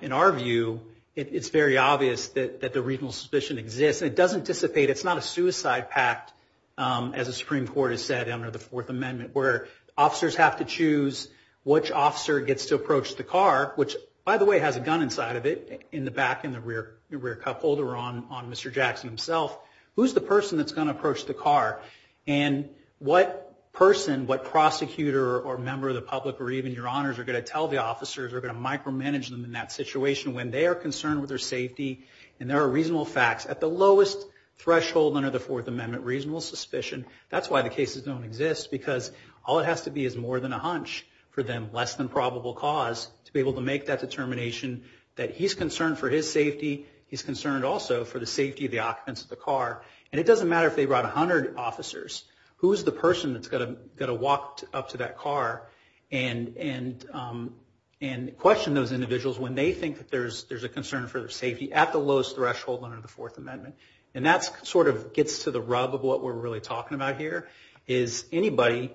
in our view, it's very obvious that the reasonable suspicion exists. And it doesn't dissipate. It's not a suicide pact, as the Supreme Court has said under the Fourth Amendment, where officers have to choose which officer gets to approach the car, which, by the way, has a gun inside of it in the back in the rear cup holder on Mr. Jackson himself. Who's the person that's going to approach the car? And what person, what prosecutor or member of the public or even your honors are going to tell the officers or going to micromanage them in that situation when they are concerned with their safety and there are reasonable facts at the lowest threshold under the Fourth Amendment, reasonable suspicion. That's why the cases don't exist because all it has to be is more than a hunch for them, less than probable cause, to be able to make that determination that he's concerned for his safety. He's concerned also for the safety of the occupants of the car. And it doesn't matter if they brought 100 officers. Who's the person that's going to walk up to that car and question those individuals when they think that there's a concern for their safety at the lowest threshold under the Fourth Amendment? And that sort of gets to the rub of what we're really talking about here, is anybody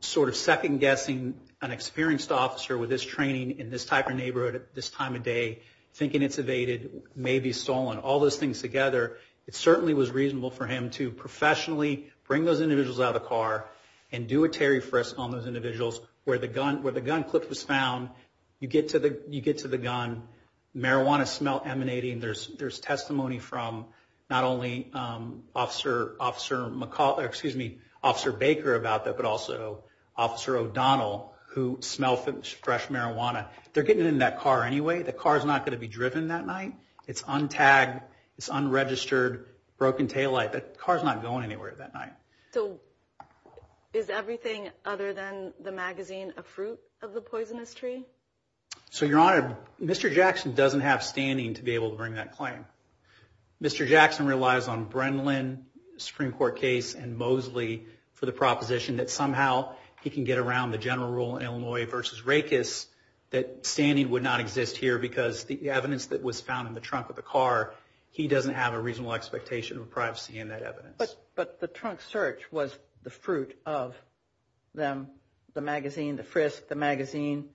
sort of second-guessing an experienced officer with this training in this type of neighborhood at this time of day, thinking it's evaded, maybe stolen, all those things together. It certainly was reasonable for him to professionally bring those individuals out of the car and do a Terry Frist on those individuals where the gun clip was found. You get to the gun, marijuana smell emanating. There's testimony from not only Officer Baker about that, but also Officer O'Donnell who smelled fresh marijuana. They're getting in that car anyway. The car's not going to be driven that night. It's untagged. It's unregistered, broken taillight. The car's not going anywhere that night. So is everything other than the magazine a fruit of the poisonous tree? So, Your Honor, Mr. Jackson doesn't have standing to be able to bring that claim. Mr. Jackson relies on Brendlin, Supreme Court case, and Mosley for the proposition that somehow he can get around the general rule in Illinois v. Rakes that standing would not exist here because the evidence that was found in the trunk of the car, he doesn't have a reasonable expectation of privacy in that evidence. But the trunk search was the fruit of them, the magazine, the frisk, the magazine.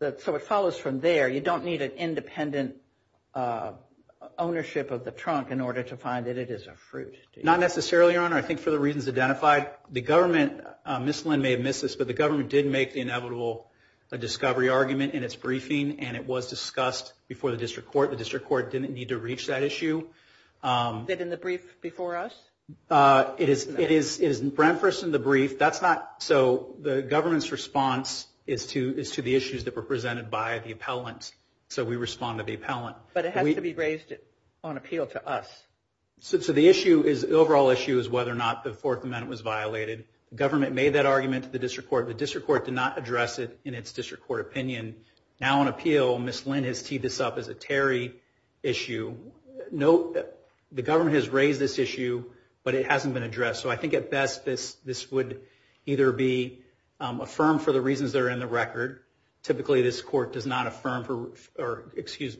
So it follows from there. You don't need an independent ownership of the trunk in order to find that it is a fruit. Not necessarily, Your Honor. I think for the reasons identified, the government, Ms. Lynn may have missed this, but the government did make the inevitable discovery argument in its briefing, and it was discussed before the district court. The district court didn't need to reach that issue. That in the brief before us? It is referenced in the brief. So the government's response is to the issues that were presented by the appellant. So we respond to the appellant. But it has to be raised on appeal to us. So the overall issue is whether or not the Fourth Amendment was violated. The government made that argument to the district court. The district court did not address it in its district court opinion. Now on appeal, Ms. Lynn has teed this up as a Terry issue. The government has raised this issue, but it hasn't been addressed. So I think at best this would either be affirmed for the reasons that are in the record. Typically this court does not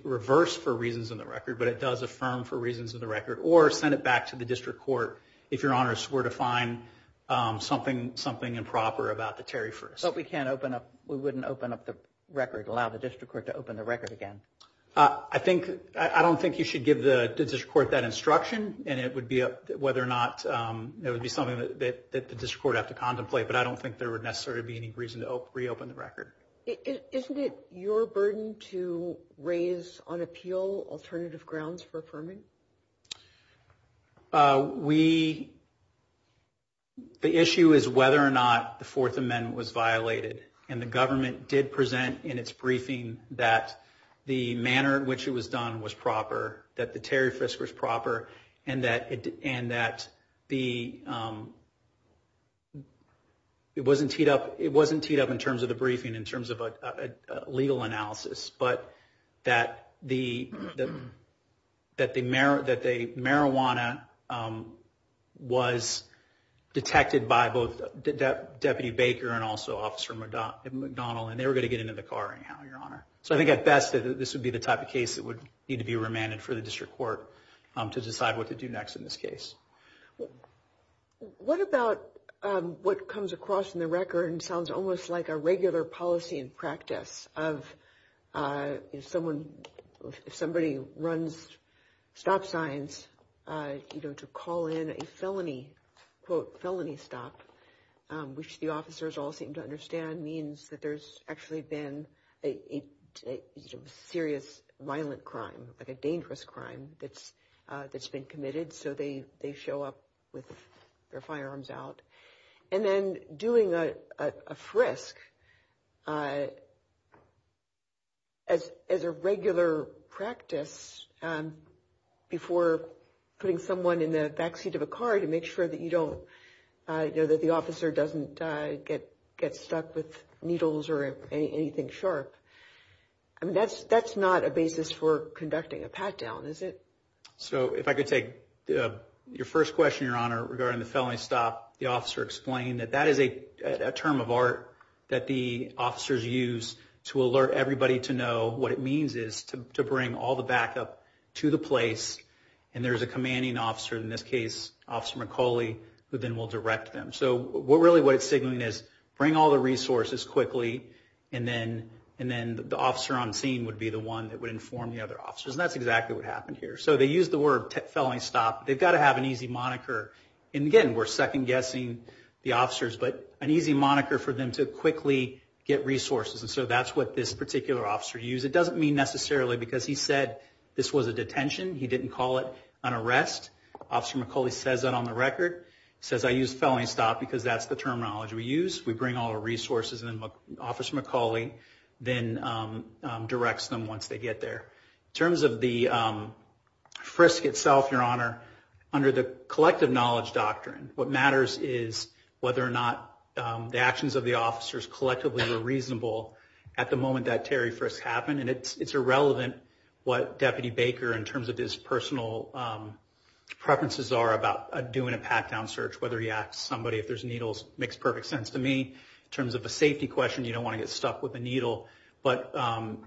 reverse for reasons in the record, but it does affirm for reasons in the record, or send it back to the district court if Your Honor swore to find something improper about the Terry first. But we can't open up, we wouldn't open up the record, allow the district court to open the record again. I don't think you should give the district court that instruction, and it would be something that the district court would have to contemplate, but I don't think there would necessarily be any reason to reopen the record. Isn't it your burden to raise on appeal alternative grounds for affirming? The issue is whether or not the Fourth Amendment was violated. And the government did present in its briefing that the manner in which it was done was proper, that the Terry Frisk was proper, and that it wasn't teed up in terms of the briefing, in terms of a legal analysis, but that the marijuana was detected by both Deputy Baker and also Officer McDonald, and they were going to get into the car anyhow, Your Honor. So I think at best, this would be the type of case that would need to be remanded for the district court to decide what to do next in this case. What about what comes across in the record and sounds almost like a regular policy and practice of if somebody runs stop signs to call in a felony, quote, felony stop, which the officers all seem to understand means that there's actually been a serious violent crime, like a dangerous crime that's been committed. So they show up with their firearms out. And then doing a frisk as a regular practice before putting someone in the backseat of a car to make sure that the officer doesn't get stuck with needles or anything sharp. I mean, that's not a basis for conducting a pat-down, is it? So if I could take your first question, Your Honor, regarding the felony stop. The officer explained that that is a term of art that the officers use to alert everybody to know what it means is to bring all the backup to the place. And there's a commanding officer, in this case, Officer McCauley, who then will direct them. So really what it's signaling is bring all the resources quickly, and then the officer on scene would be the one that would inform the other officers. And that's exactly what happened here. So they used the word felony stop. They've got to have an easy moniker. And again, we're second-guessing the officers, but an easy moniker for them to quickly get resources. And so that's what this particular officer used. It doesn't mean necessarily because he said this was a detention. He didn't call it an arrest. Officer McCauley says that on the record. He says, I used felony stop because that's the terminology we use. We bring all the resources, and then Officer McCauley then directs them once they get there. In terms of the frisk itself, Your Honor, under the collective knowledge doctrine, what matters is whether or not the actions of the officers collectively were reasonable at the moment that Terry Frisk happened. And it's irrelevant what Deputy Baker, in terms of his personal preferences, are about doing a pat-down search, whether he asks somebody if there's needles. It makes perfect sense to me. In terms of a safety question, you don't want to get stuck with a needle, but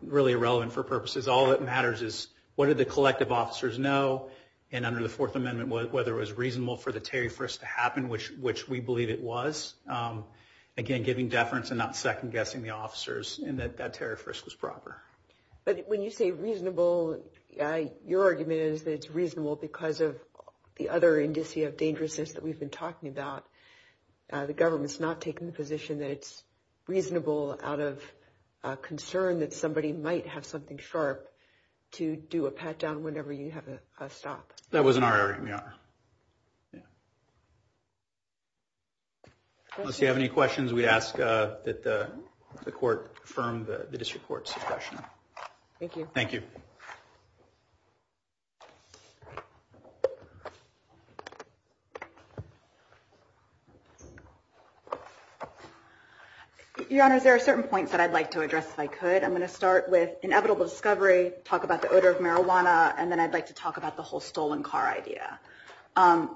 really irrelevant for purposes. All that matters is what do the collective officers know, and under the Fourth Amendment, whether it was reasonable for the Terry Frisk to happen, which we believe it was. Again, giving deference and not second-guessing the officers in that Terry Frisk was proper. But when you say reasonable, your argument is that it's reasonable because of the other indicia of dangerousness that we've been talking about. The government's not taking the position that it's reasonable out of concern that somebody might have something sharp to do a pat-down whenever you have a stop. That was in our area, Your Honor. Unless you have any questions, we ask that the court affirm the district court's suggestion. Thank you. Your Honors, there are certain points that I'd like to address if I could. I'm going to start with inevitable discovery, talk about the odor of marijuana, and then I'd like to talk about the whole stolen car idea.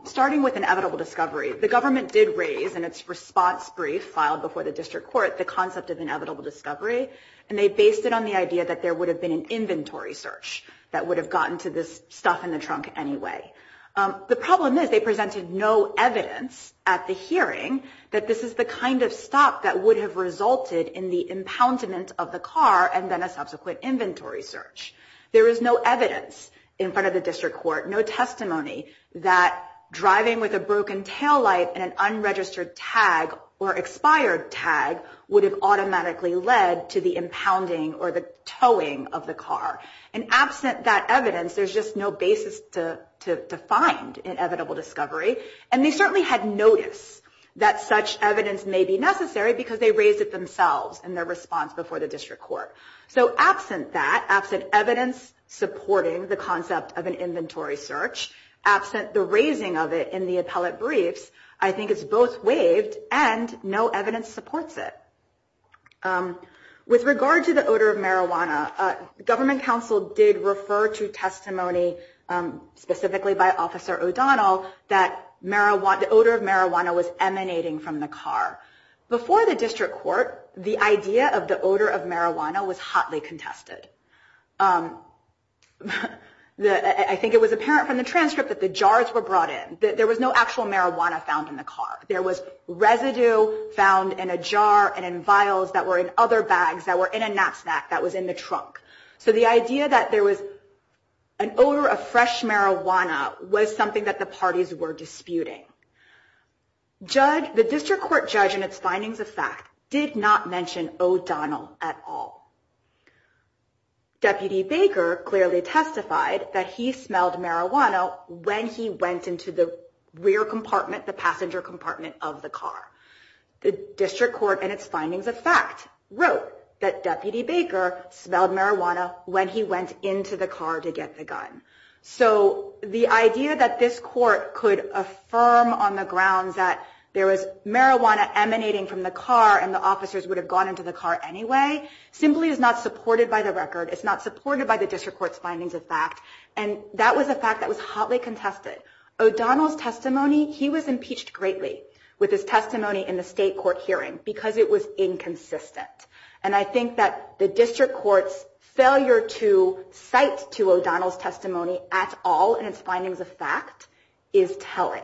Starting with inevitable discovery, the government did raise in its response brief filed before the district court the concept of inevitable discovery, and they based it on the idea that there would have been an inventory search that would have gotten to this stuff in the trunk anyway. The problem is they presented no evidence at the hearing that this is the kind of stop that would have resulted in the impoundment of the car and then a subsequent inventory search. There is no evidence in front of the district court, no testimony that driving with a broken taillight and an unregistered tag or expired tag would have automatically led to the impounding or the towing of the car. And absent that evidence, there's just no basis to find inevitable discovery, and they certainly had notice that such evidence may be necessary because they raised it themselves in their response before the district court. So absent that, absent evidence supporting the concept of an inventory search, absent the raising of it in the appellate briefs, I think it's both waived and no evidence supports it. With regard to the odor of marijuana, government counsel did refer to testimony specifically by Officer O'Donnell that the odor of marijuana was emanating from the car. Before the district court, the idea of the odor of marijuana was hotly contested. I think it was apparent from the transcript that the jars were brought in. There was no actual marijuana found in the car. There was residue found in a jar and in vials that were in other bags that were in a nap snack that was in the trunk. So the idea that there was an odor of fresh marijuana was something that the parties were disputing. The district court judge in its findings of fact did not mention O'Donnell at all. Deputy Baker clearly testified that he smelled marijuana when he went into the rear compartment, the passenger compartment of the car. The district court in its findings of fact wrote that Deputy Baker smelled marijuana when he went into the car to get the gun. So the idea that this court could affirm on the grounds that there was marijuana emanating from the car and the officers would have gone into the car anyway simply is not supported by the record. It's not supported by the district court's findings of fact. And that was a fact that was hotly contested. O'Donnell's testimony, he was impeached greatly with his testimony in the state court hearing because it was inconsistent. And I think that the district court's failure to cite to O'Donnell's testimony at all in its findings of fact is telling.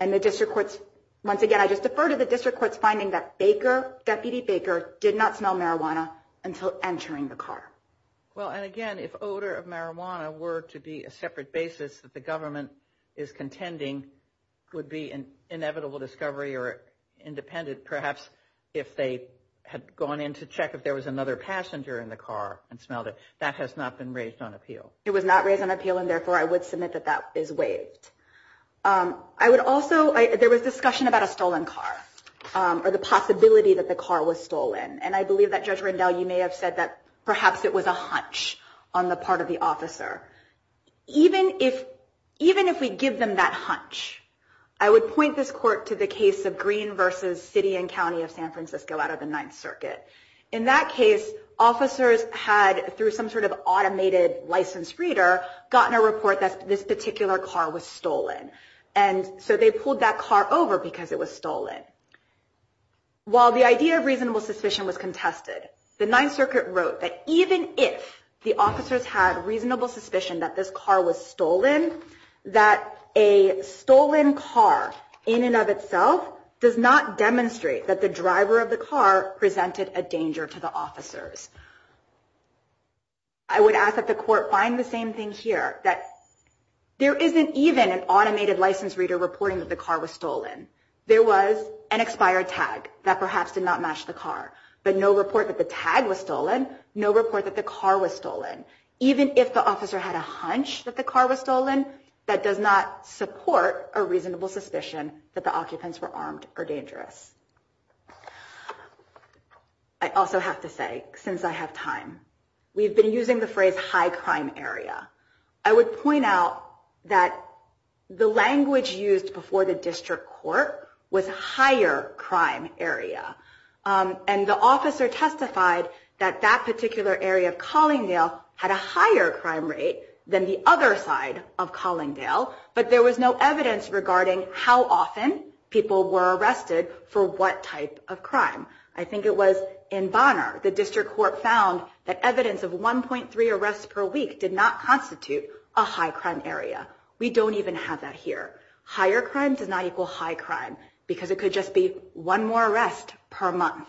And the district court's, once again, I just defer to the district court's finding that Baker, Deputy Baker, did not smell marijuana until entering the car. Well, and again, if odor of marijuana were to be a separate basis that the government is contending would be an inevitable discovery or independent perhaps if they had gone in to check if there was another passenger in the car and smelled it. That has not been raised on appeal. It was not raised on appeal, and therefore I would submit that that is waived. I would also, there was discussion about a stolen car or the possibility that the car was stolen. And I believe that Judge Rendell, you may have said that perhaps it was a hunch on the part of the officer. Even if we give them that hunch, I would point this court to the case of Green versus City and County of San Francisco out of the Ninth Circuit. In that case, officers had, through some sort of automated license reader, gotten a report that this particular car was stolen. And so they pulled that car over because it was stolen. While the idea of reasonable suspicion was contested, the Ninth Circuit wrote that even if the officers had reasonable suspicion that this car was stolen, that a stolen car in and of itself does not demonstrate that the driver of the car presented a danger to the officers. I would ask that the court find the same thing here, that there isn't even an automated license reader reporting that the car was stolen. There was an expired tag that perhaps did not match the car, but no report that the tag was stolen, no report that the car was stolen. Even if the officer had a hunch that the car was stolen, that does not support a reasonable suspicion that the occupants were armed or dangerous. I also have to say, since I have time, we've been using the phrase high crime area. I would point out that the language used before the district court was higher crime area. And the officer testified that that particular area of Collingdale had a higher crime rate than the other side of Collingdale, but there was no evidence regarding how often people were arrested for what type of crime. I think it was in Bonner, the district court found that evidence of 1.3 arrests per week did not constitute a high crime area. We don't even have that here. Higher crime does not equal high crime because it could just be one more arrest per month.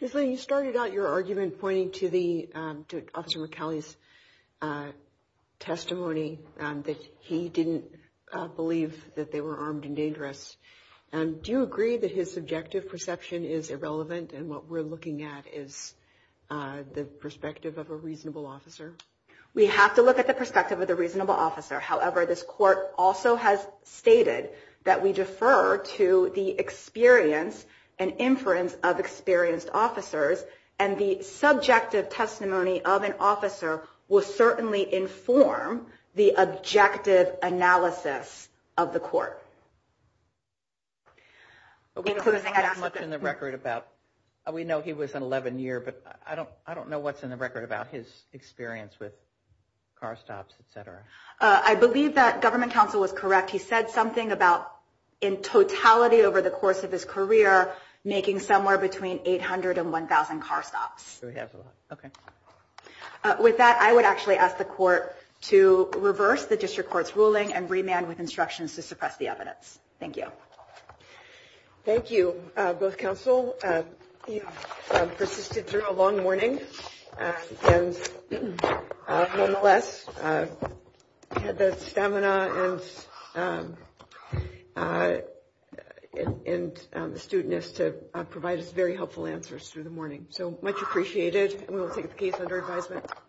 Ms. Lane, you started out your argument pointing to Officer McAuley's testimony that he didn't believe that they were armed and dangerous. Do you agree that his subjective perception is irrelevant and what we're looking at is the perspective of a reasonable officer? We have to look at the perspective of the reasonable officer. However, this court also has stated that we defer to the experience and inference of experienced officers and the subjective testimony of an officer will certainly inform the objective analysis of the court. We know he was an 11-year, but I don't know what's in the record about his experience with car stops, et cetera. I believe that government counsel was correct. He said something about in totality over the course of his career making somewhere between 800 and 1,000 car stops. With that, I would actually ask the court to reverse the district court's ruling and remand with instructions to suppress the evidence. Thank you. Thank you, both counsel. You've persisted through a long morning and nonetheless had the stamina and astuteness to provide us very helpful answers through the morning. So much appreciated and we will take the case under advisement.